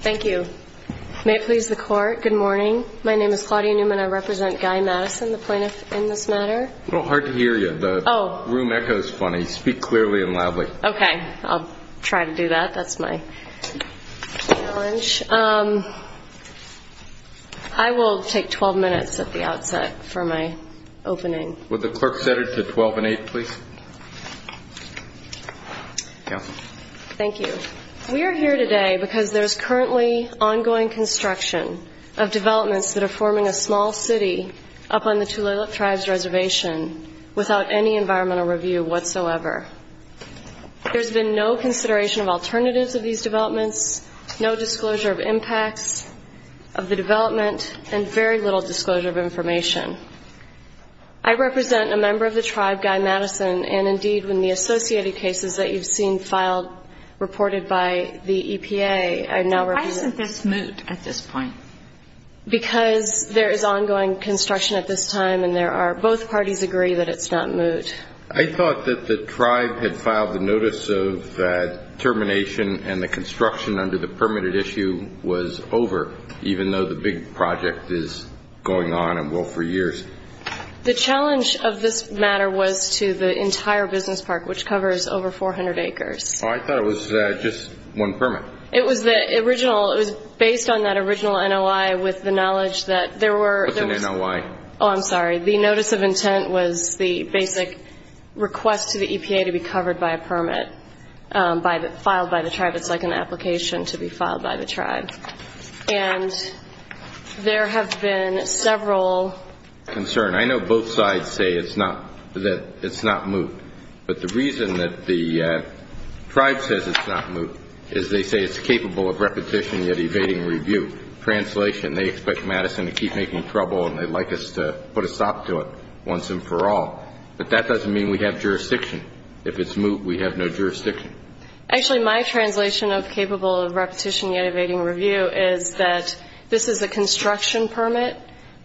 Thank you. May it please the Court, good morning. My name is Claudia Newman. I represent Guy Madison, the plaintiff in this matter. It's a little hard to hear you. The room echo is funny. Speak clearly and loudly. Okay. I'll try to do that. That's my challenge. I will take 12 minutes at the outset for my opening. Would the clerk set it to 12 and 8, please? Counsel. Thank you. We are here today because there's currently ongoing construction of developments that are forming a small city up on the Tulalip Tribes Reservation without any environmental review whatsoever. There's been no consideration of alternatives of these developments, no alternatives. I represent a member of the tribe, Guy Madison, and, indeed, when the associated cases that you've seen filed, reported by the EPA, I now represent Why isn't this moved at this point? Because there is ongoing construction at this time and there are both parties agree that it's not moved. I thought that the tribe had filed the notice of that termination and the construction under the permitted issue was over, even though the big project is going on and will for years. The challenge of this matter was to the entire business park, which covers over 400 acres. I thought it was just one permit. It was the original. It was based on that original NOI with the knowledge that there were What's an NOI? Oh, I'm sorry. The notice of intent was the basic request to the EPA to be covered by a permit filed by the tribe. It's like an application to be filed by the tribe. And there have been several Concern. I know both sides say it's not moved. But the reason that the tribe says it's not moved is they say it's capable of repetition yet evading review. Translation, they expect Madison to keep making trouble and they'd like us to put a stop to it once and for all. But that doesn't mean we have jurisdiction. If it's moved, we have no jurisdiction. Actually, my translation of capable of repetition yet evading review is that this is a construction permit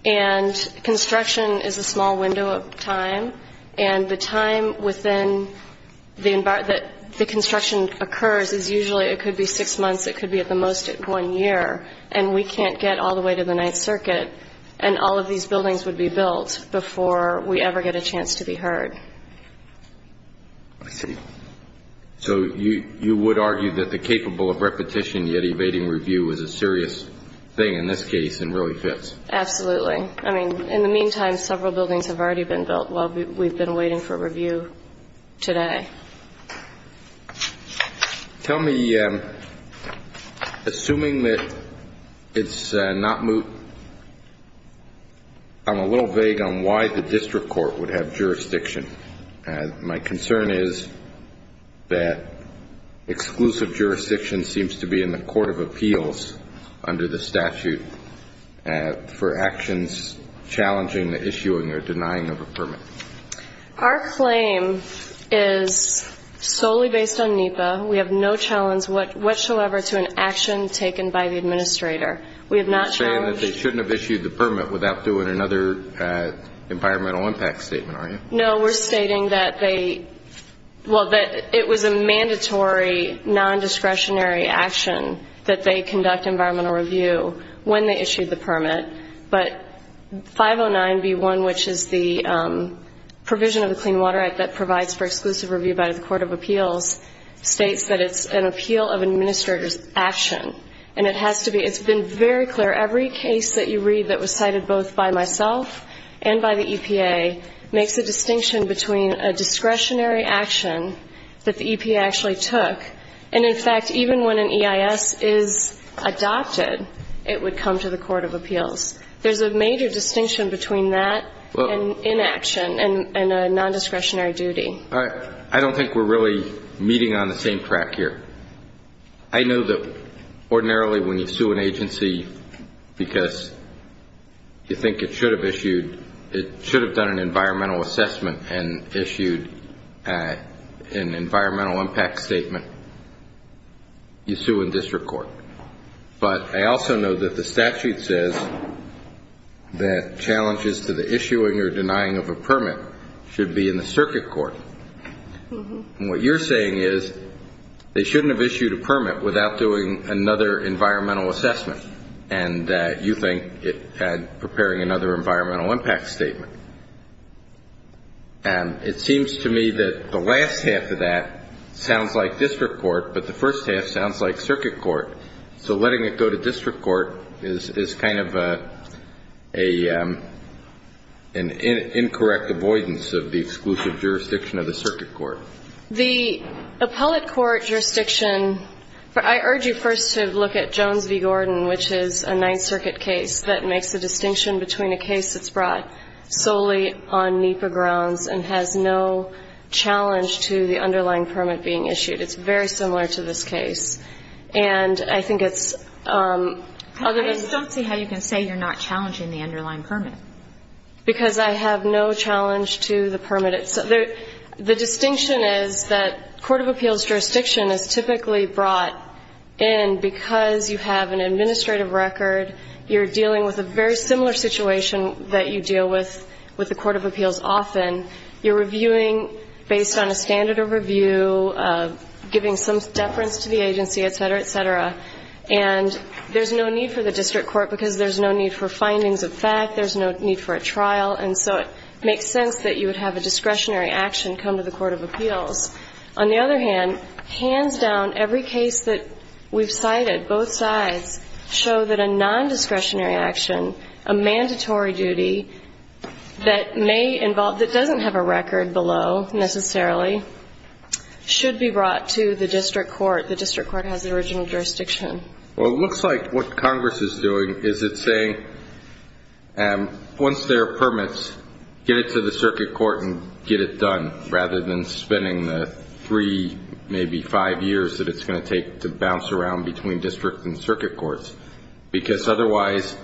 and construction is a small window of time. And the time within the environment the construction occurs is usually it could be six months. It could be at the most one year. And we can't get all the way to the Ninth Circuit. And all of these buildings would be built before we ever get a chance to be heard. I see. So you would argue that the capable of repetition yet evading review is a serious thing in this case and really fits? Absolutely. I mean, in the meantime, several buildings have already been built while we've been waiting for review today. Tell me, assuming that it's not moved, I'm a little vague on why the district court would have jurisdiction. My concern is that exclusive jurisdiction seems to be in the Court of Appeals under the statute for actions challenging the issuing or denying of a permit. Our claim is solely based on NEPA. We have no challenge whatsoever to an action taken by the administrator. We have not challenged... You're saying that they shouldn't have issued the permit without doing another environmental impact statement, are you? No, we're stating that they... Well, that it was a mandatory non-discretionary action that they conduct environmental review when they issued the permit. But 509B1, which is the provision of the Clean Water Act that provides for exclusive review by the Court of Appeals, states that it's an appeal of administrator's action. And it has to be... Every case that you read that was cited both by myself and by the EPA makes a distinction between a discretionary action that the EPA actually took, and in fact, even when an EIS is adopted, it would come to the Court of Appeals. There's a major distinction between that and inaction and a non-discretionary duty. I don't think we're really meeting on the same track here. I know that ordinarily when you sue an agency because you think it should have issued... It should have done an environmental assessment and issued an environmental impact statement, you sue in district court. But I also know that the statute says that challenges to the issuing or denying of a permit should be in the circuit court. And what you're saying is they shouldn't have issued a permit without doing another environmental assessment, and you think it had preparing another environmental impact statement. And it seems to me that the last half of that sounds like district court, but the first half sounds like circuit court. So letting it go to district court is kind of an incorrect avoidance of the exclusive jurisdiction of the circuit court. The appellate court jurisdiction, I urge you first to look at Jones v. Gordon, which is a Ninth Circuit case that makes a distinction between a case that's brought solely on NEPA grounds and has no challenge to the underlying permit being issued. It's very similar to this case. And I think it's other than... I just don't see how you can say you're not challenging the underlying permit. Because I have no challenge to the permit itself. The distinction is that court of appeals jurisdiction is typically brought in because you have an administrative record, you're dealing with a very similar situation that you deal with with the court of appeals often. You're reviewing based on a standard of review, giving some deference to the agency, et cetera, et cetera. And there's no need for the district court because there's no need for findings of fact, there's no need for a trial. And so it makes sense that you would have a discretionary action come to the court of appeals. On the other hand, hands down, every case that we've cited, both sides, show that a non-discretionary action, a mandatory duty that may involve, that doesn't have a record below necessarily, should be brought to the district court. The district court has the original jurisdiction. Well, it looks like what Congress is doing is it's saying, once there are permits, get it to the circuit court and get it done, rather than spending the three, maybe five years that it's going to take to bounce around between district and circuit courts. Because otherwise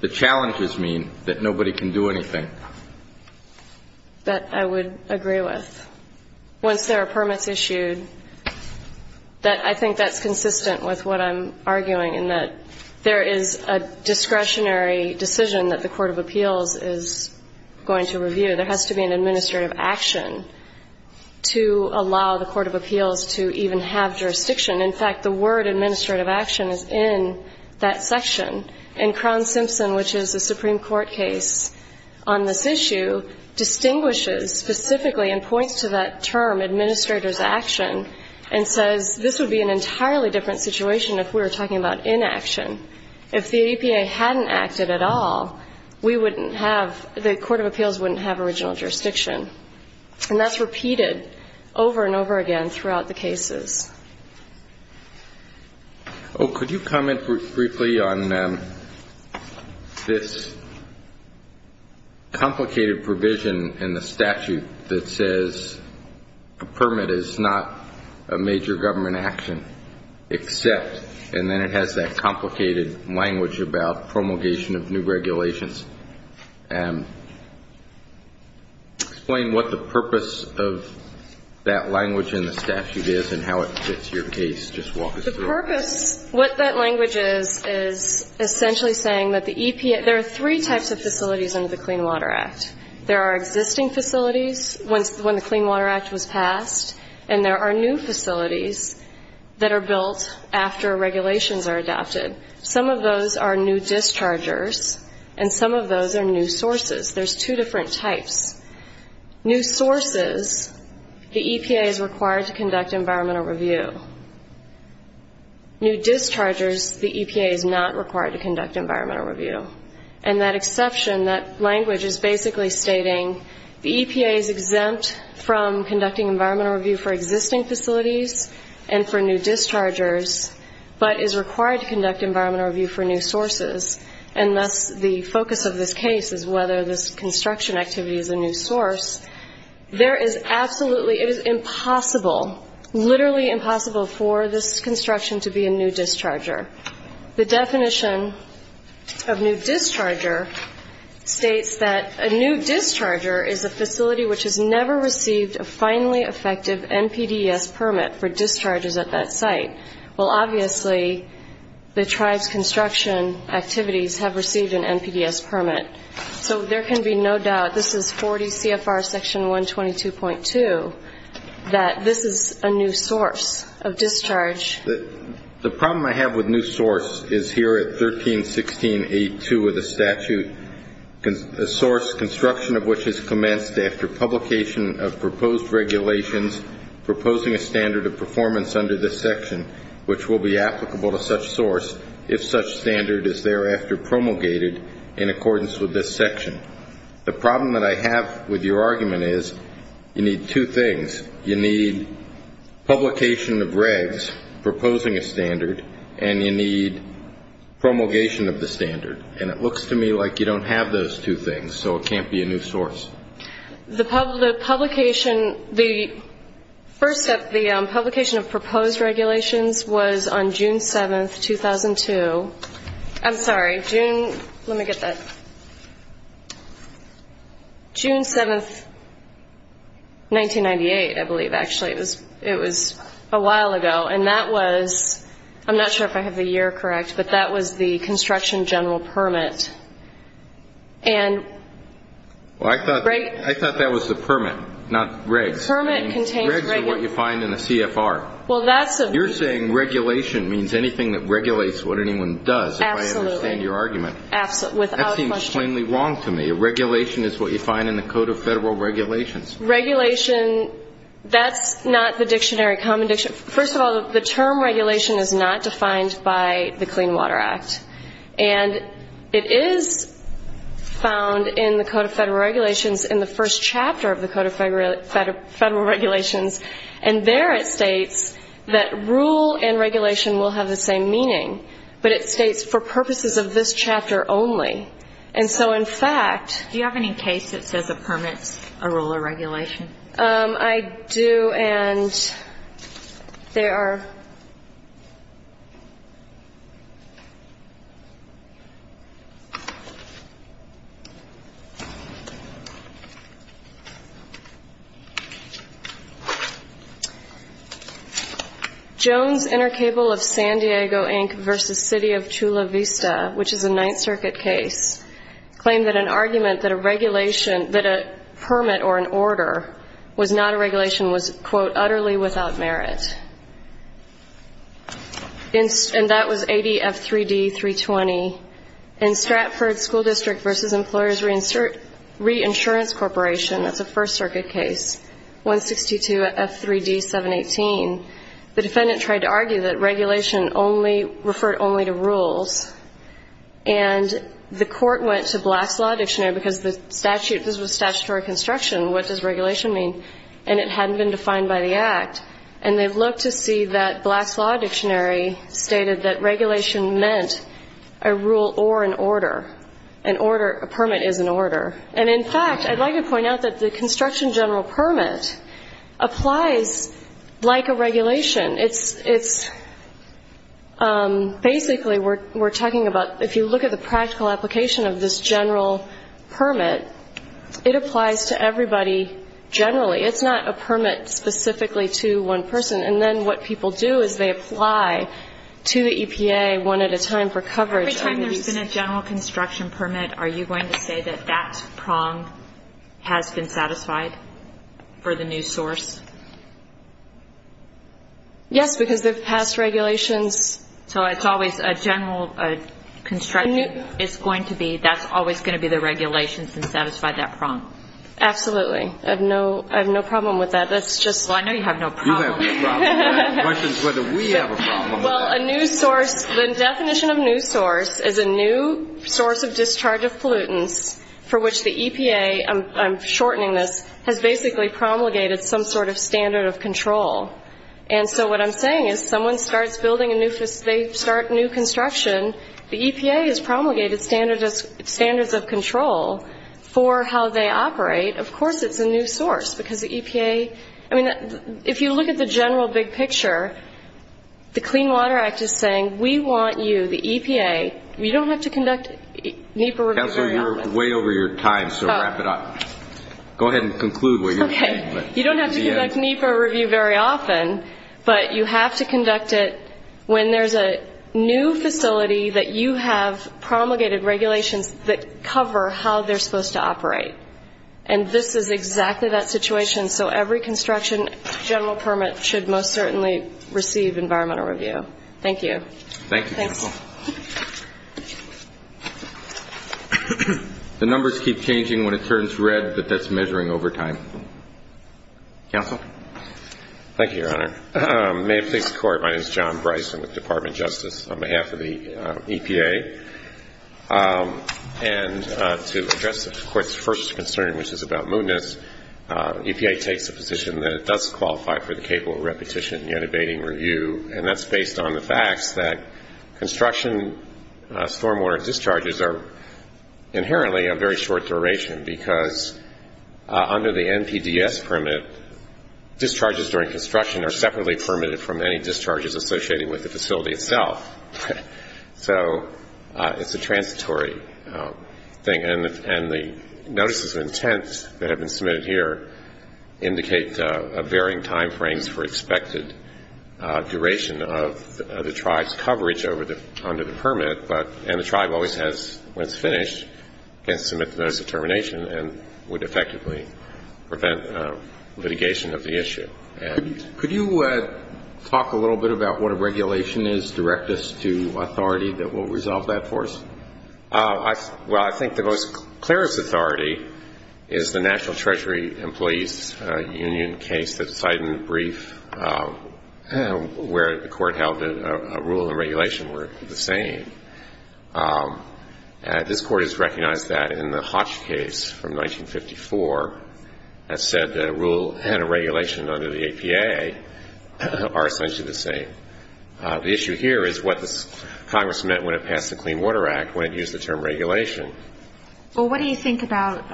the challenges mean that nobody can do anything. That I would agree with. Once there are permits issued, that I think that's consistent with what I'm arguing in that there is a discretionary decision that the court of appeals is going to review. There has to be an administrative action to allow the court of appeals to even have jurisdiction. In fact, the word administrative action is in that section. And Crown Simpson, which is a Supreme Court case on this issue, distinguishes specifically and points to that we're talking about inaction. If the APA hadn't acted at all, we wouldn't have, the court of appeals wouldn't have original jurisdiction. And that's repeated over and over again throughout the cases. Oh, could you comment briefly on this complicated provision in the statute that says a permit is not a major government action, except, and then it has that complicated language about promulgation of new regulations. Explain what the purpose of that language in the statute is and how it fits your case. Just walk us through it. The purpose, what that language is, is essentially saying that the EPA, there are three types of facilities under the Clean Water Act. There are existing facilities, when the Clean Water Act was passed, and there are new facilities that are built after regulations are adopted. Some of those are new dischargers, and some of those are new sources. There's two different types. New sources, the EPA is required to conduct environmental review. New dischargers, the EPA is not required to conduct environmental review. And that exception, that language is basically stating the EPA is exempt from conducting environmental review for existing facilities and for new dischargers, but is required to conduct environmental review for new sources. And thus, the focus of this case is whether this construction activity is a new source. There is absolutely, it is impossible, literally impossible for this construction to be a new that a new discharger is a facility which has never received a finally effective NPDES permit for discharges at that site. Well, obviously, the tribe's construction activities have received an NPDES permit. So there can be no doubt, this is 40 CFR section 122.2, that this is a new source of discharge. The problem I have with new source is here at 1316.8.2 of the statute, a source construction of which has commenced after publication of proposed regulations proposing a standard of performance under this section, which will be applicable to such source if such standard is thereafter promulgated in accordance with this section. The problem that I have with your argument is you need two things. You need publication of regs proposing a standard, and you need promulgation of the standard. And it looks to me like you don't have those two things, so it can't be a new source. The publication, the first step, the publication of proposed regulations was on June 7th, 2002. I'm sorry, June, let me get that. June 7th, 1998, I believe, actually. It was a while ago. And that was, I'm not sure if I have the year correct, but that was the construction general permit. And... Well, I thought that was the permit, not regs. The permit contains regs. Regs are what you find in a CFR. Well, that's a... You're saying regulation means anything that regulates what anyone does, if I understand your argument. Absolutely. Without question. That seems plainly wrong to me. A regulation is what you find in the Code of Federal Regulations. Regulation, that's not the dictionary, common dictionary. First of all, the term regulation is not defined by the Clean Water Act. And it is found in the Code of Federal Regulations in the first chapter of the Code of Federal Regulations. And there it states that rule and regulation will have the same meaning. But it states for purposes of this chapter only. And so, in fact... Do you have any case that says a permit's a rule or regulation? I do, and they are... Jones Intercable of San Diego, Inc. v. City of Chula Vista, which is a Ninth Circuit case, claimed that an argument that a regulation, that a permit or an order was not a regulation was, quote, utterly without merit. And that was ADF3D320. In Stratford School District v. Employers Reinsurance Corporation, that's a First Circuit case, 162 F3D718, the defendant tried to argue that regulation referred only to rules. And the court went to Blast's Law Dictionary because this was statutory construction. What does regulation mean? And it hadn't been defined by the Act. And they looked to see that Blast's Law Dictionary stated that regulation meant a rule or an order. An order, a permit is an order. And in fact, I'd like to point out that the construction general permit applies like a regulation. It's, it's, basically we're talking about, if you look at the practical application of this general permit, it applies to everybody generally. It's not a permit specifically to one person. And then what people do is they apply to the EPA one at a time for coverage of these... That's been satisfied for the new source? Yes, because the past regulations... So it's always a general construction, it's going to be, that's always going to be the regulations that satisfy that prong? Absolutely. I have no problem with that. That's just... Well, I know you have no problem. You have no problem with that. The question is whether we have a problem with that. Well, a new source, the definition of new source is a new source of discharge of pollutants for which the EPA, I'm shortening this, has basically promulgated some sort of standard of control. And so what I'm saying is someone starts building a new, they start new construction, the EPA has promulgated standards of control for how they operate. Of course it's a new source because the EPA, I mean, if you look at the general big picture, the Clean Water Act is saying, we want you, the EPA, we don't have to conduct NEPA revisions... Counselor, you're way over your time, so wrap it up. Go ahead and conclude what you're saying. You don't have to conduct NEPA review very often, but you have to conduct it when there's a new facility that you have promulgated regulations that cover how they're supposed to operate. And this is exactly that situation. So every construction general permit should most certainly receive environmental review. Thank you. Thank you, Counselor. Thanks. The numbers keep changing when it turns red, but that's measuring over time. Counsel? Thank you, Your Honor. May it please the Court, my name is John Bryson with the Department of Justice on behalf of the EPA. And to address the Court's first concern, which is about moodness, EPA takes a position that it does qualify for the capable repetition yet abating review, and that's based on the facts that construction stormwater discharges are inherently a very short duration, because under the NPDES permit, discharges during construction are separately permitted from any discharges associated with the facility itself. So it's a transitory thing. And the notices of intent that have been submitted here indicate varying time frames for expected duration of the tribe's coverage under the permit, and the tribe always has, when it's finished, can submit the notice of termination and would effectively prevent litigation of the issue. Could you talk a little bit about what a regulation is, direct us to authority that will resolve that for us? Well, I think the most clearest authority is the National Treasury Employees Union case that's cited in the brief where the Court held that a rule and regulation were the same. This Court has recognized that in the Hodge case from 1954, that said that a rule and a regulation under the EPA are essentially the same. The issue here is what Congress meant when it passed the Clean Water Act, when it used the term regulation. Well, what do you think about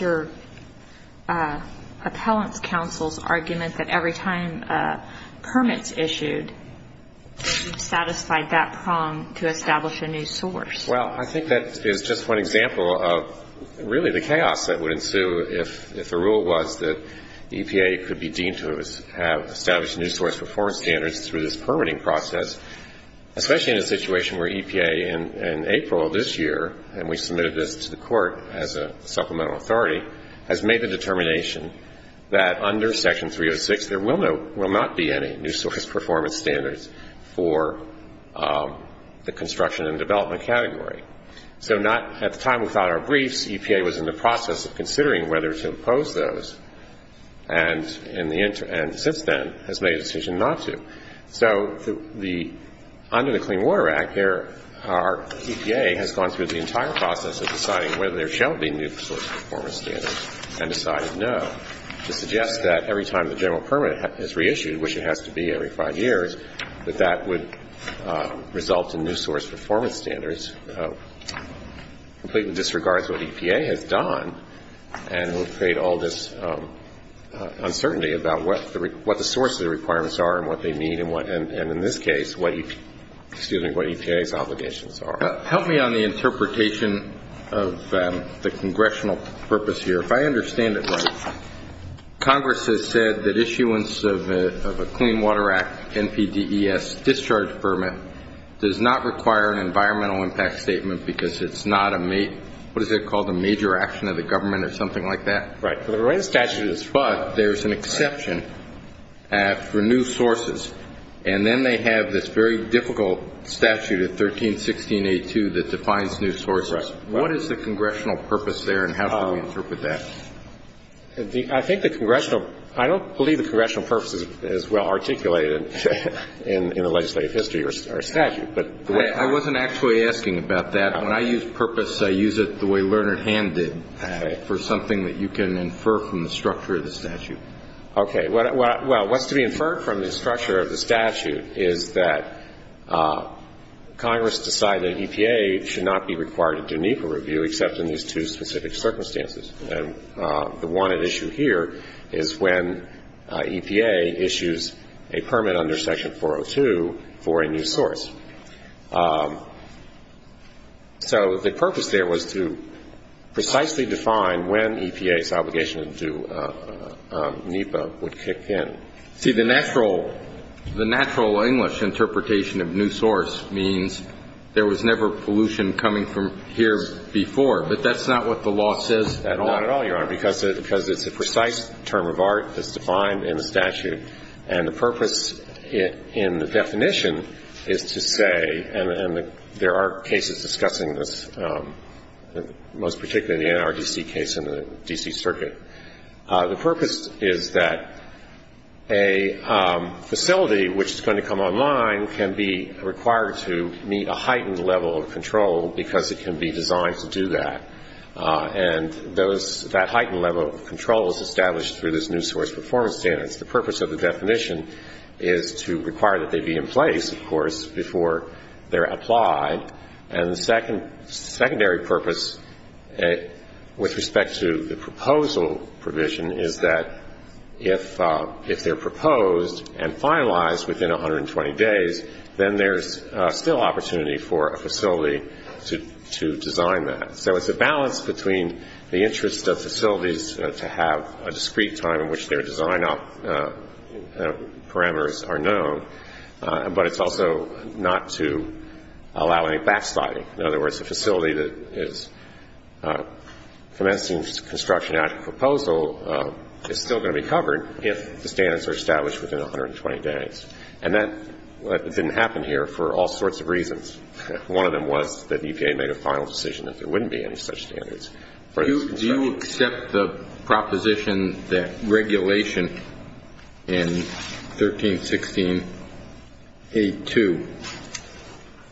your appellant's counsel's argument that every time a permit is issued, you've satisfied that prong to establish a new source? Well, I think that is just one example of really the chaos that would ensue if the rule was that EPA could be deemed to have established a new source for foreign standards through this permitting process, especially in a situation where EPA in April of this year, and we submitted this to the Court as a supplemental authority, has made the determination that under Section 306, there will not be any new source performance standards for the construction and development category. So not at the time without our briefs, EPA was in the process of considering whether to impose those, and since then has made a decision not to. So under the Clean Water Act, EPA has gone through the entire process of deciding whether there shall be new source performance standards and decided no, to suggest that every time the general permit is reissued, which it has to be every five years, that that would result in new source performance standards, completely disregards what EPA has done, and would create all this uncertainty about what the source of the requirements are and what they mean, and in this case, what EPA's obligations are. Help me on the interpretation of the Congressional purpose here. If I understand it right, Congress has said that issuance of a Clean Water Act NPDES discharge permit does not require an environmental impact statement because it's not a, what is it called, a major action of the government or something like that? Right. For the remainder of the statute, it is. But there's an exception for new sources, and then they have this very difficult statute of 1316A2 that defines new sources. What is the Congressional purpose there, and how do we interpret that? I think the Congressional, I don't believe the Congressional purpose is as well articulated in the legislative history of our statute, but the way I... I wasn't actually asking about that. When I use purpose, I use it the way Lerner and Hand did, for something that you can infer from the structure of the statute. Okay. Well, what's to be inferred from the structure of the statute is that Congress decided EPA should not be required to do NEPA review except in these two specific circumstances, and the one issue here is when EPA issues a permit under Section 402 for a new source. So the purpose there was to precisely define when EPA's obligation to do NEPA would kick in. See, the natural, the natural English interpretation of new source means there was never pollution coming from here before, but that's not what the law says at all. Not at all, Your Honor, because it's a precise term of art that's defined in the statute, and the purpose in the definition is to say, and there are cases discussing this, most particularly the NRDC case in the D.C. Circuit, the purpose is that a facility which is going to come online can be required to meet a heightened level of control because it can be designed to do that, and that heightened level of control is established through this new source performance standards. The purpose of the definition is to require that they be in place, of course, before they're applied, and the secondary purpose with respect to the proposal provision is that if they're proposed and finalized within 120 days, then there's still opportunity for a facility to design that. So it's a balance between the interest of facilities to have a discrete time in which their design parameters are known, but it's also not to allow any backsliding. In other words, a facility that is commencing construction after proposal is still going to be covered if the standards are established within 120 days, and that didn't happen here for all sorts of reasons. One of them was that the EPA made a final decision that there wouldn't be any such standards for this construction. Do you accept the proposition that regulation in 1316.82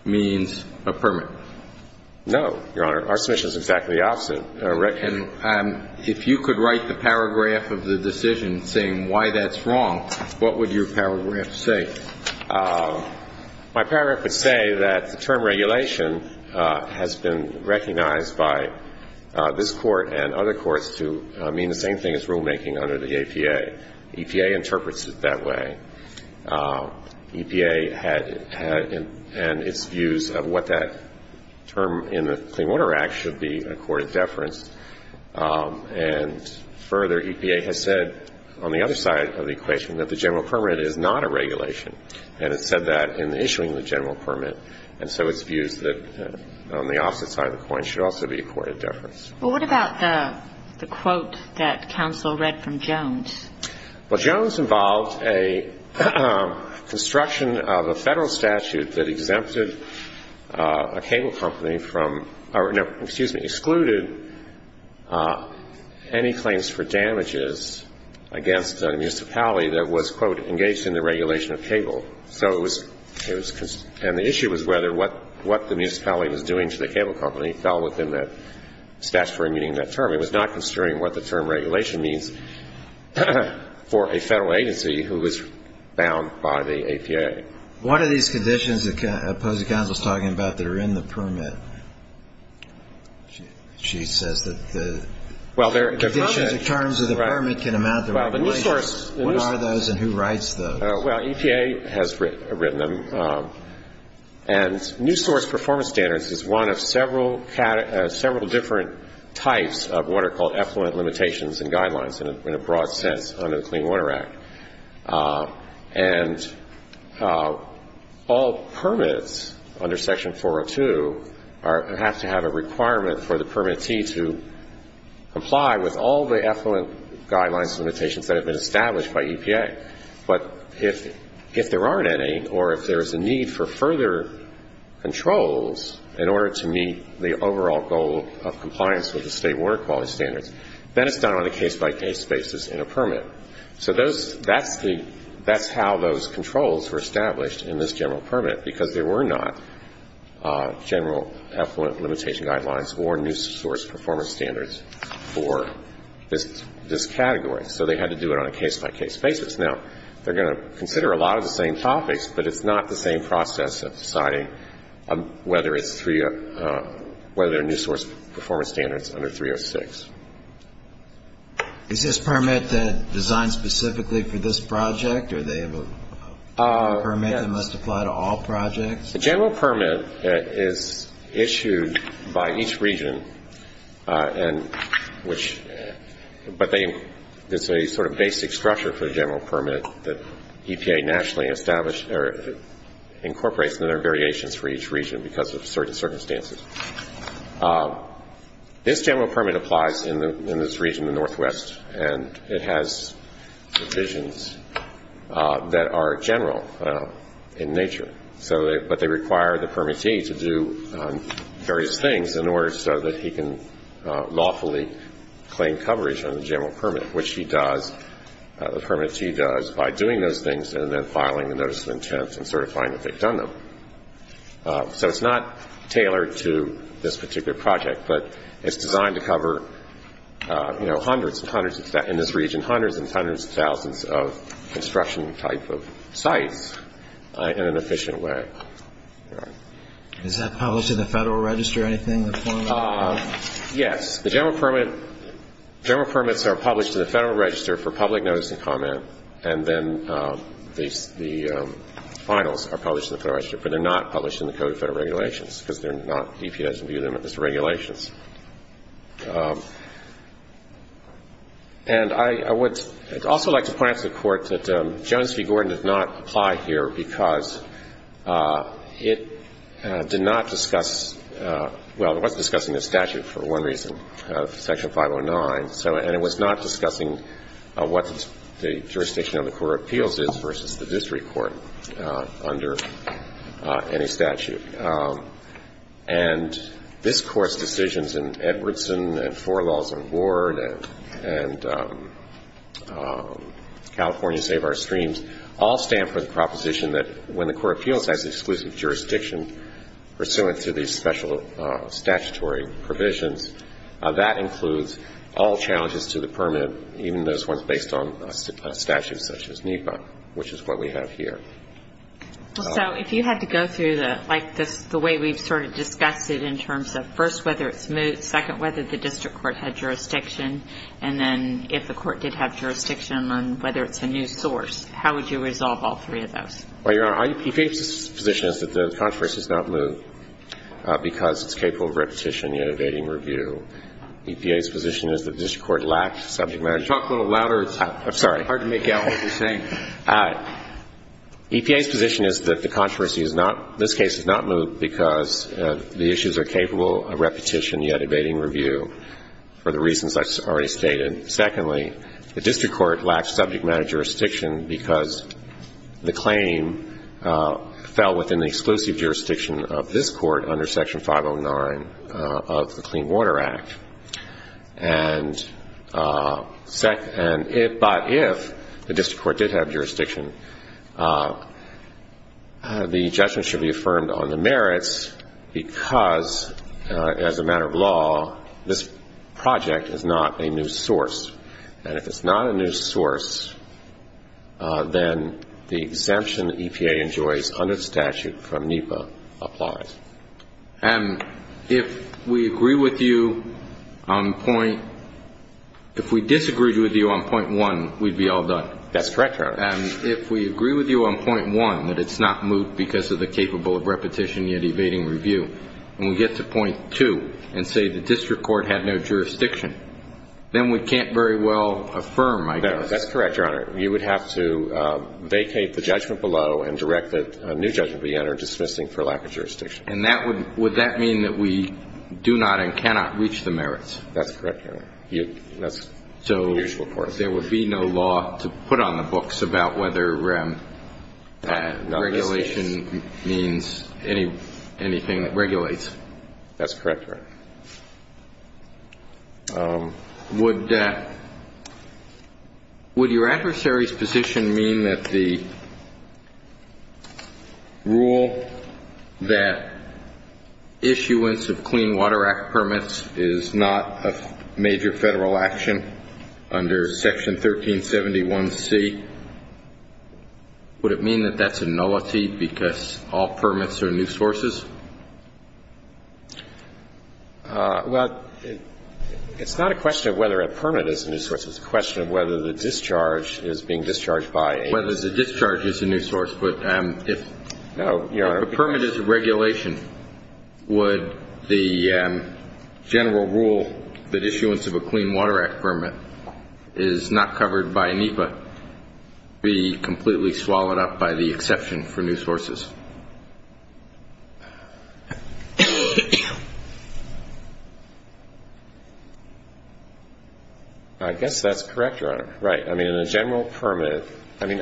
means a permit? No, Your Honor. Our submission is exactly the opposite. If you could write the paragraph of the decision saying why that's wrong, what would your paragraph say? My paragraph would say that the term regulation has been recognized by this Court and other courts to mean the same thing as rulemaking under the EPA. EPA interprets it that way. EPA and its views of what that term in the Clean Water Act should be accorded deference, and further, EPA has said on the other side of the equation that the general permit is not a regulation, and it said that in the issuing of the general permit, and so its views that on the opposite side of the coin should also be accorded deference. Well, what about the quote that counsel read from Jones? Well, Jones involved a construction of a Federal statute that exempted a cable company from or, no, excuse me, excluded any claims for damages against a municipality that was, quote, engaged in the regulation of cable. So it was, and the issue was whether what the municipality was doing to the cable company fell within that statutory meaning of that term. It was not concerning what the term regulation means for a Federal agency who was bound by the EPA. What are these conditions that Posey Counsel is talking about that are in the permit? She says that the conditions or terms of the permit can amount to regulations. What are those and who writes those? Well, EPA has written them, and new source performance standards is one of several different types of what are called effluent limitations and guidelines in a broad sense under the All permits under Section 402 have to have a requirement for the permittee to comply with all the effluent guidelines and limitations that have been established by EPA. But if there aren't any or if there is a need for further controls in order to meet the overall goal of compliance with the state water quality standards, then it's done on a So those, that's the, that's how those controls were established in this general permit because there were not general effluent limitation guidelines or new source performance standards for this category. So they had to do it on a case-by-case basis. Now, they're going to consider a lot of the same topics, but it's not the same process of deciding whether it's three, whether new source performance standards under 306. Is this permit designed specifically for this project, or they have a permit that must apply to all projects? The general permit is issued by each region, and which, but they, there's a sort of basic structure for the general permit that EPA nationally established, or incorporates and there are variations for each region because of certain circumstances. This general permit applies in this region, the northwest, and it has provisions that are general in nature. So they, but they require the permittee to do various things in order so that he can lawfully claim coverage on the general permit, which he does, the permittee does by doing those things and then filing a notice of intent and certifying that they've done them. So it's not tailored to this particular project, but it's designed to cover, you know, hundreds and hundreds of, in this region, hundreds and hundreds of thousands of construction type of sites in an efficient way. All right. Is that published in the Federal Register, anything? Yes. The general permit, general permits are published in the Federal Register for public notice and comment, and then the finals are published in the Federal Register, but they're not published in the Code of Federal Regulations because they're not, EPA doesn't view them as regulations. And I would also like to point out to the Court that Jones v. Gordon does not apply here because it did not discuss, well, it was discussing the statute for one reason, Section 509, and it was not discussing what the jurisdiction of the Court of Appeals is versus the district court under any statute. And this Court's decisions in Edwardson and four laws on Ward and California Save Our Streams all stand for the proposition that when the Court of Appeals has exclusive jurisdiction pursuant to these special statutory provisions, that includes all challenges to the permit, even those ones based on a statute such as NEPA, which is what we have here. So if you had to go through, like, the way we've sort of discussed it in terms of, first, whether it's moved, second, whether the district court had jurisdiction, and then if the court did have jurisdiction on whether it's a new source, how would you resolve all three of those? Well, Your Honor, EPA's position is that the controversy is not moved because it's capable of repetition, yet abating review. EPA's position is that the district court lacked subject matter. Talk a little louder. I'm sorry. It's hard to make out what you're saying. EPA's position is that the controversy is not, this case is not moved because the issues are capable of repetition, yet abating review for the reasons I already stated. And secondly, the district court lacked subject matter jurisdiction because the claim fell within the exclusive jurisdiction of this court under Section 509 of the Clean Water Act. And if, but if, the district court did have jurisdiction, the judgment should be affirmed on the merits because, as a matter of law, this project is not a new source. And if it's not a new source, then the exemption EPA enjoys under the statute from NEPA applies. And if we agree with you on point, if we disagreed with you on point one, we'd be all done. That's correct, Your Honor. And if we agree with you on point one, that it's not moved because of the capable of repetition, yet abating review, and we get to point two and say the district court had no jurisdiction, then we can't very well affirm, I guess. That's correct, Your Honor. You would have to vacate the judgment below and direct a new judgment to be entered dismissing for lack of jurisdiction. And that would, would that mean that we do not and cannot reach the merits? That's correct, Your Honor. That's the usual course. There would be no law to put on the books about whether regulation means anything that regulates. That's correct, Your Honor. Would that, would your adversary's position mean that the rule that issuance of Clean Water Act permits is not a major federal action under Section 1371C, would it mean that that's a nullity because all permits are new sources? Well, it's not a question of whether a permit is a new source. It's a question of whether the discharge is being discharged by a new source. Whether the discharge is a new source, but if a permit is a regulation, would the general rule that issuance of a Clean Water Act permit is not covered by NEPA be completely swallowed up by the exception for new sources? I guess that's correct, Your Honor. Right. I mean, in a general permit, I mean,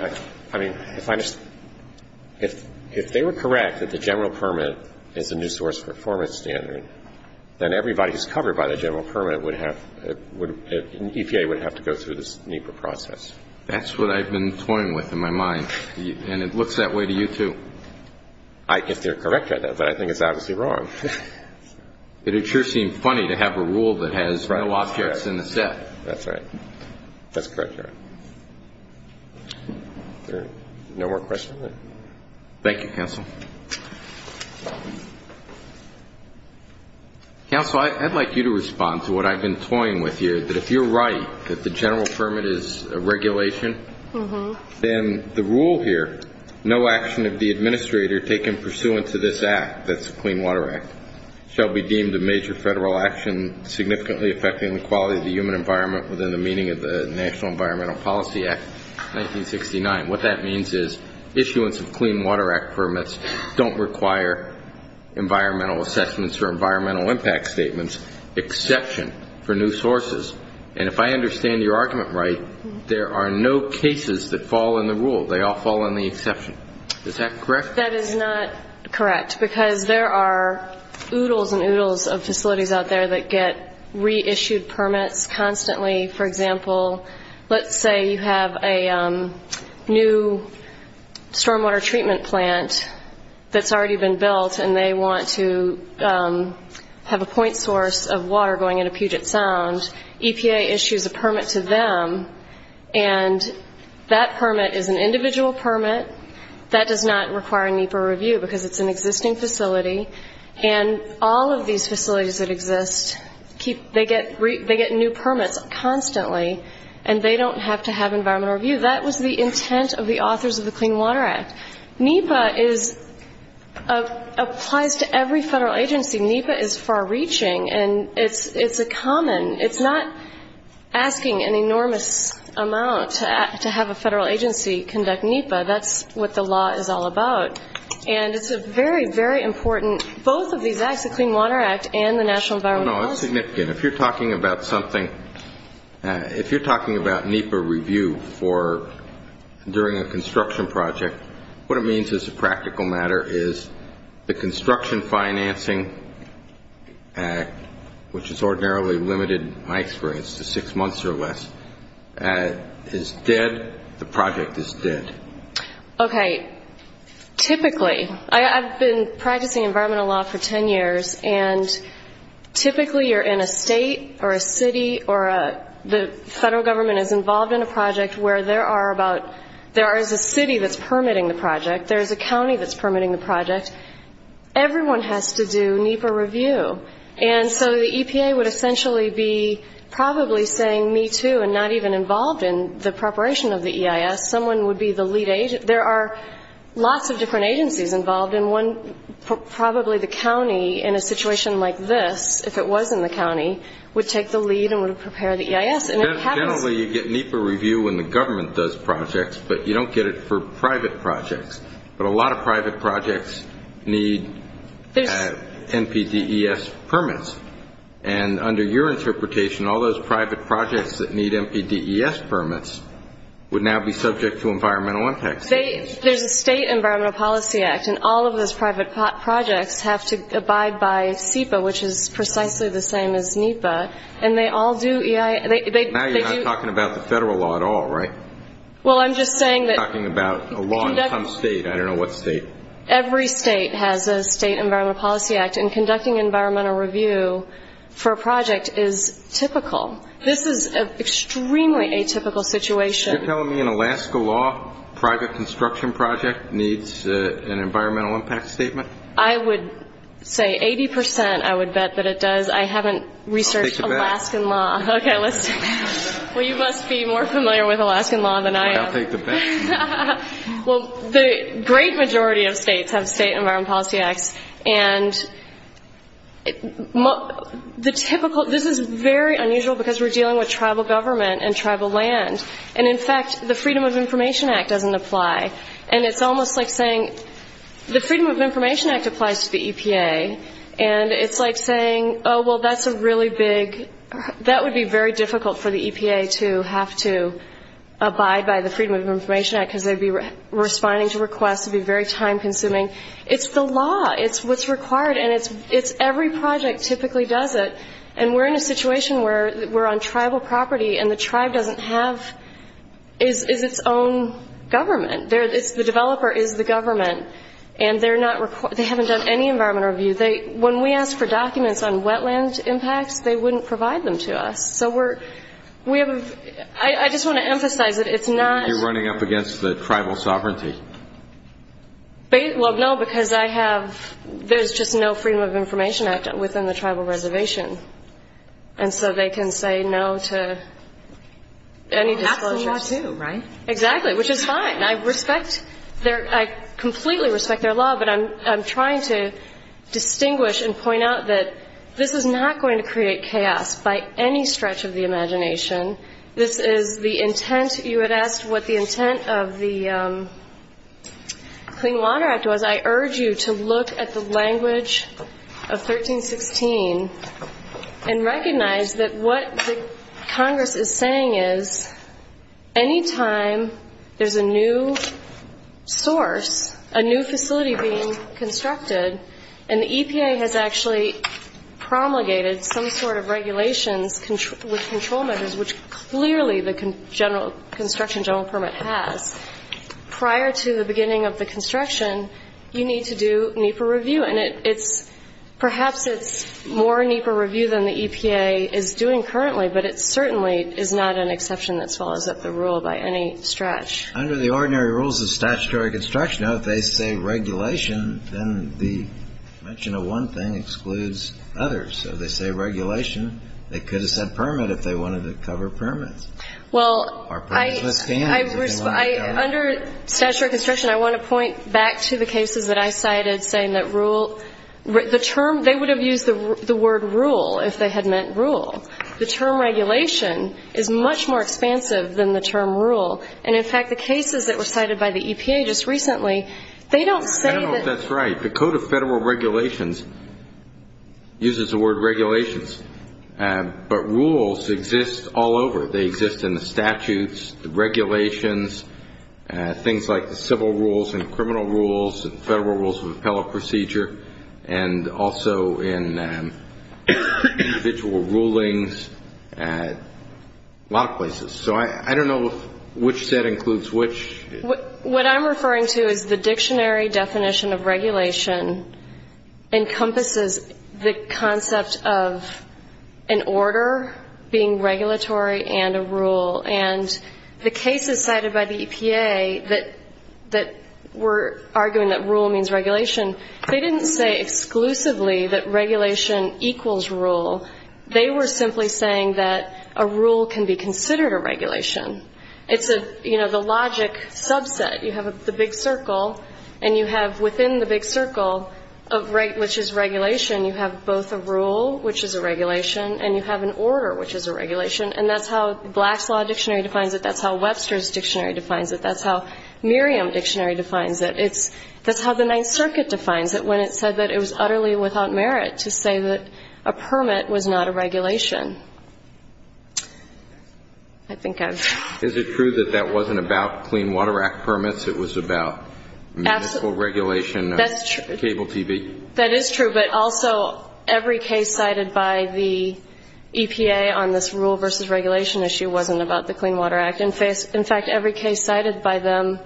if they were correct that the general permit is a new source performance standard, then everybody who's covered by the general permit would have, EPA would have to go through this NEPA process. That's what I've been toying with in my mind, and it looks that way to you, too. If they're correct, I know, but I think it's obviously wrong. It would sure seem funny to have a rule that has no objects in the set. That's right. That's correct, Your Honor. No more questions? Thank you, Counsel. Counsel, I'd like you to respond to what I've been toying with here, that if you're right that the general permit is a regulation, then the rule here, no action of the administrator taken pursuant to this act, that's the Clean Water Act, shall be deemed a major federal action significantly affecting the quality of the human environment within the meaning of the National Environmental Policy Act, 1969. What that means is issuance of Clean Water Act permits don't require environmental assessments or environmental impact statements, exception for new sources. And if I understand your argument right, there are no cases that fall in the rule. They all fall in the exception. Is that correct? That is not correct, because there are oodles and oodles of facilities out there that get reissued permits constantly. For example, let's say you have a new stormwater treatment plant that's already been built and they want to have a point source of water going into Puget Sound. EPA issues a permit to them, and that permit is an individual permit. That does not require a NEPA review, because it's an existing facility. And all of these facilities that exist, they get new permits constantly, and they don't have to have environmental review. That was the intent of the authors of the Clean Water Act. NEPA applies to every federal agency. NEPA is far-reaching, and it's a common. It's not asking an enormous amount to have a federal agency conduct NEPA. That's what the law is all about. And it's very, very important. Both of these acts, the Clean Water Act and the National Environment Laws. No, it's significant. If you're talking about something, if you're talking about NEPA review during a construction project, what it means as a practical matter is the Construction Financing Act, which has ordinarily limited my experience to six months or less, is dead. The project is dead. Okay. Typically, I've been practicing environmental law for 10 years, and typically you're in a state or a city or the federal government is involved in a project where there is a city that's permitting the project, there's a county that's permitting the project. Everyone has to do NEPA review. And so the EPA would essentially be probably saying, me too, and not even involved in the preparation of the EIS. Someone would be the lead agent. There are lots of different agencies involved, and one, probably the county, in a situation like this, if it was in the county, would take the lead and would prepare the EIS. And it happens. Generally, you get NEPA review when the government does projects, but you don't get it for private projects. But a lot of private projects need NPDES permits. And under your interpretation, all those private projects that need NPDES permits would now be subject to environmental impact statements. There's a state environmental policy act, and all of those private projects have to abide by SEPA, which is precisely the same as NEPA. And they all do EIS. Now you're not talking about the federal law at all, right? Well, I'm just saying that. You're talking about a law in some state. I don't know what state. Every state has a state environmental policy act. And conducting environmental review for a project is typical. This is an extremely atypical situation. You're telling me an Alaska law private construction project needs an environmental impact statement? I would say 80 percent I would bet that it does. I haven't researched Alaskan law. I'll take the bet. Okay. Well, you must be more familiar with Alaskan law than I am. I'll take the bet. Well, the great majority of states have state environmental policy acts. And the typical ‑‑ this is very unusual because we're dealing with tribal government and tribal land. And, in fact, the Freedom of Information Act doesn't apply. And it's almost like saying the Freedom of Information Act applies to the EPA, and it's like saying, oh, well, that's a really big ‑‑ that would be very difficult for the EPA to have to abide by the Freedom of Information Act because they'd be responding to requests. It would be very time consuming. It's the law. It's what's required. And it's every project typically does it. And we're in a situation where we're on tribal property, and the tribe doesn't have ‑‑ is its own government. The developer is the government. And they haven't done any environmental review. When we ask for documents on wetland impacts, they wouldn't provide them to us. So we're ‑‑ I just want to emphasize that it's not ‑‑ You're running up against the tribal sovereignty. Well, no, because I have ‑‑ there's just no Freedom of Information Act within the tribal reservation. And so they can say no to any disclosures. That's the law, too, right? Exactly, which is fine. I respect their ‑‑ I completely respect their law, but I'm trying to distinguish and point out that this is not going to create chaos by any stretch of the imagination. This is the intent. You had asked what the intent of the Clean Water Act was. I urge you to look at the language of 1316 and recognize that what the Congress is saying is, any time there's a new source, a new facility being constructed, and the EPA has actually promulgated some sort of regulations with control measures, which clearly the construction general permit has, prior to the beginning of the construction, you need to do NEPA review. And it's ‑‑ perhaps it's more NEPA review than the EPA is doing currently, but it certainly is not an exception that follows up the rule by any stretch. Under the ordinary rules of statutory construction, if they say regulation, then the mention of one thing excludes others. So they say regulation. They could have said permit if they wanted to cover permits. Well, I ‑‑ Or permits with canons if they wanted to cover permits. Under statutory construction, I want to point back to the cases that I cited saying that rule ‑‑ the term ‑‑ they would have used the word rule if they had meant rule. The term regulation is much more expansive than the term rule. And, in fact, the cases that were cited by the EPA just recently, they don't say that ‑‑ I don't know if that's right. The Code of Federal Regulations uses the word regulations. But rules exist all over. They exist in the statutes, the regulations, things like the civil rules and criminal rules and federal rules of appellate procedure, and also in individual rulings, a lot of places. So I don't know which set includes which. What I'm referring to is the dictionary definition of regulation encompasses the concept of an order being regulatory and a rule, and the cases cited by the EPA that were arguing that rule means regulation, they didn't say exclusively that regulation equals rule. They were simply saying that a rule can be considered a regulation. It's a, you know, the logic subset. You have the big circle, and you have within the big circle, which is regulation, you have both a rule, which is a regulation, and you have an order, which is a regulation. And that's how Black's Law Dictionary defines it. That's how Webster's Dictionary defines it. That's how Merriam Dictionary defines it. That's how the Ninth Circuit defines it when it said that it was utterly without merit to say that a permit was not a regulation. I think I've ‑‑ Is it true that that wasn't about clean water act permits? It was about municipal regulation of cable TV? That is true, but also every case cited by the EPA on this rule versus regulation issue wasn't about the Clean Water Act. In fact, every case cited by them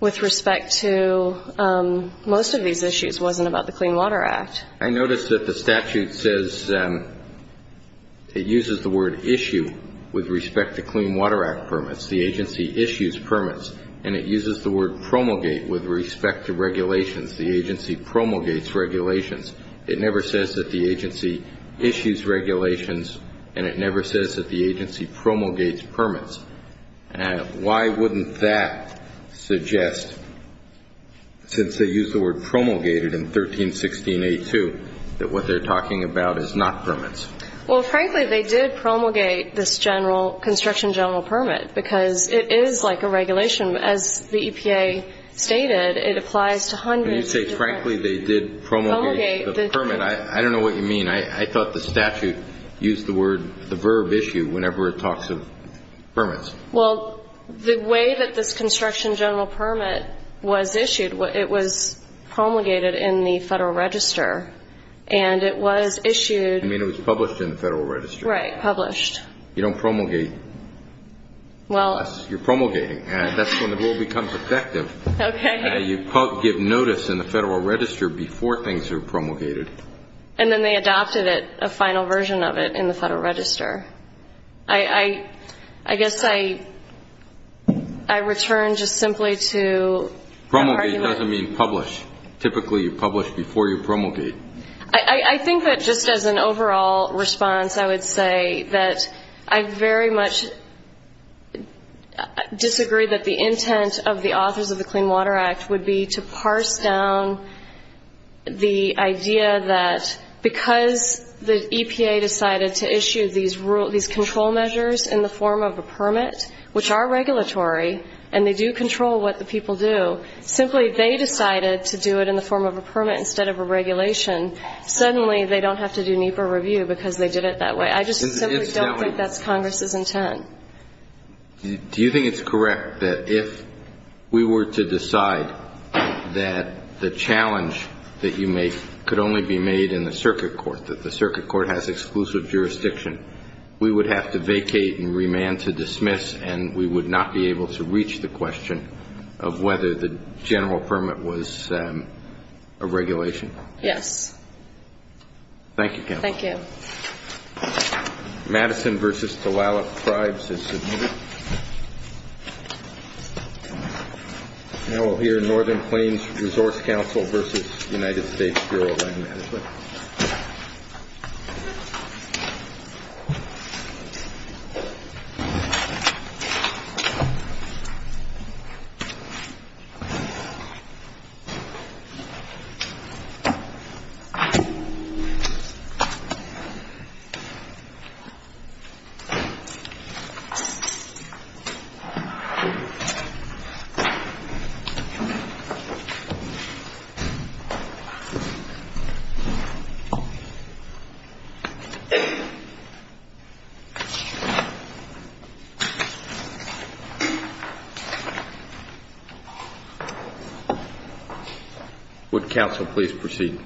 with respect to most of these issues wasn't about the Clean Water Act. I noticed that the statute says it uses the word issue with respect to Clean Water Act permits, the agency issues permits, and it uses the word promulgate with respect to regulations. The agency promulgates regulations. It never says that the agency issues regulations, and it never says that the agency promulgates permits. Why wouldn't that suggest, since they use the word promulgated in 1316A2, that what they're talking about is not permits? Well, frankly, they did promulgate this general, construction general permit, because it is like a regulation. As the EPA stated, it applies to hundreds of different ‑‑ When you say, frankly, they did promulgate the permit, I don't know what you mean. I thought the statute used the verb issue whenever it talks of permits. Well, the way that this construction general permit was issued, it was promulgated in the Federal Register, and it was issued ‑‑ You mean it was published in the Federal Register. Right, published. You don't promulgate. Unless you're promulgating, and that's when the rule becomes effective. Okay. You give notice in the Federal Register before things are promulgated. And then they adopted it, a final version of it, in the Federal Register. I guess I return just simply to ‑‑ Promulgate doesn't mean publish. Typically, you publish before you promulgate. I think that just as an overall response, I would say that I very much disagree that the intent of the authors of the Clean Water Act would be to parse down the idea that because the EPA decided to issue these control measures in the form of a permit, which are regulatory, and they do control what the people do, simply they decided to do it in the form of a permit instead of a regulation. Suddenly, they don't have to do NEPA review because they did it that way. I just simply don't think that's Congress's intent. Do you think it's correct that if we were to decide that the challenge that you make could only be made in the circuit court, that the circuit court has exclusive jurisdiction, we would have to vacate and remand to dismiss, and we would not be able to reach the question of whether the general permit was a regulation? Yes. Thank you, Counsel. Thank you. Madison v. Tlaloc Tribes has submitted. Now we'll hear Northern Plains Resource Council v. United States Bureau of Land Management. Would counsel please proceed?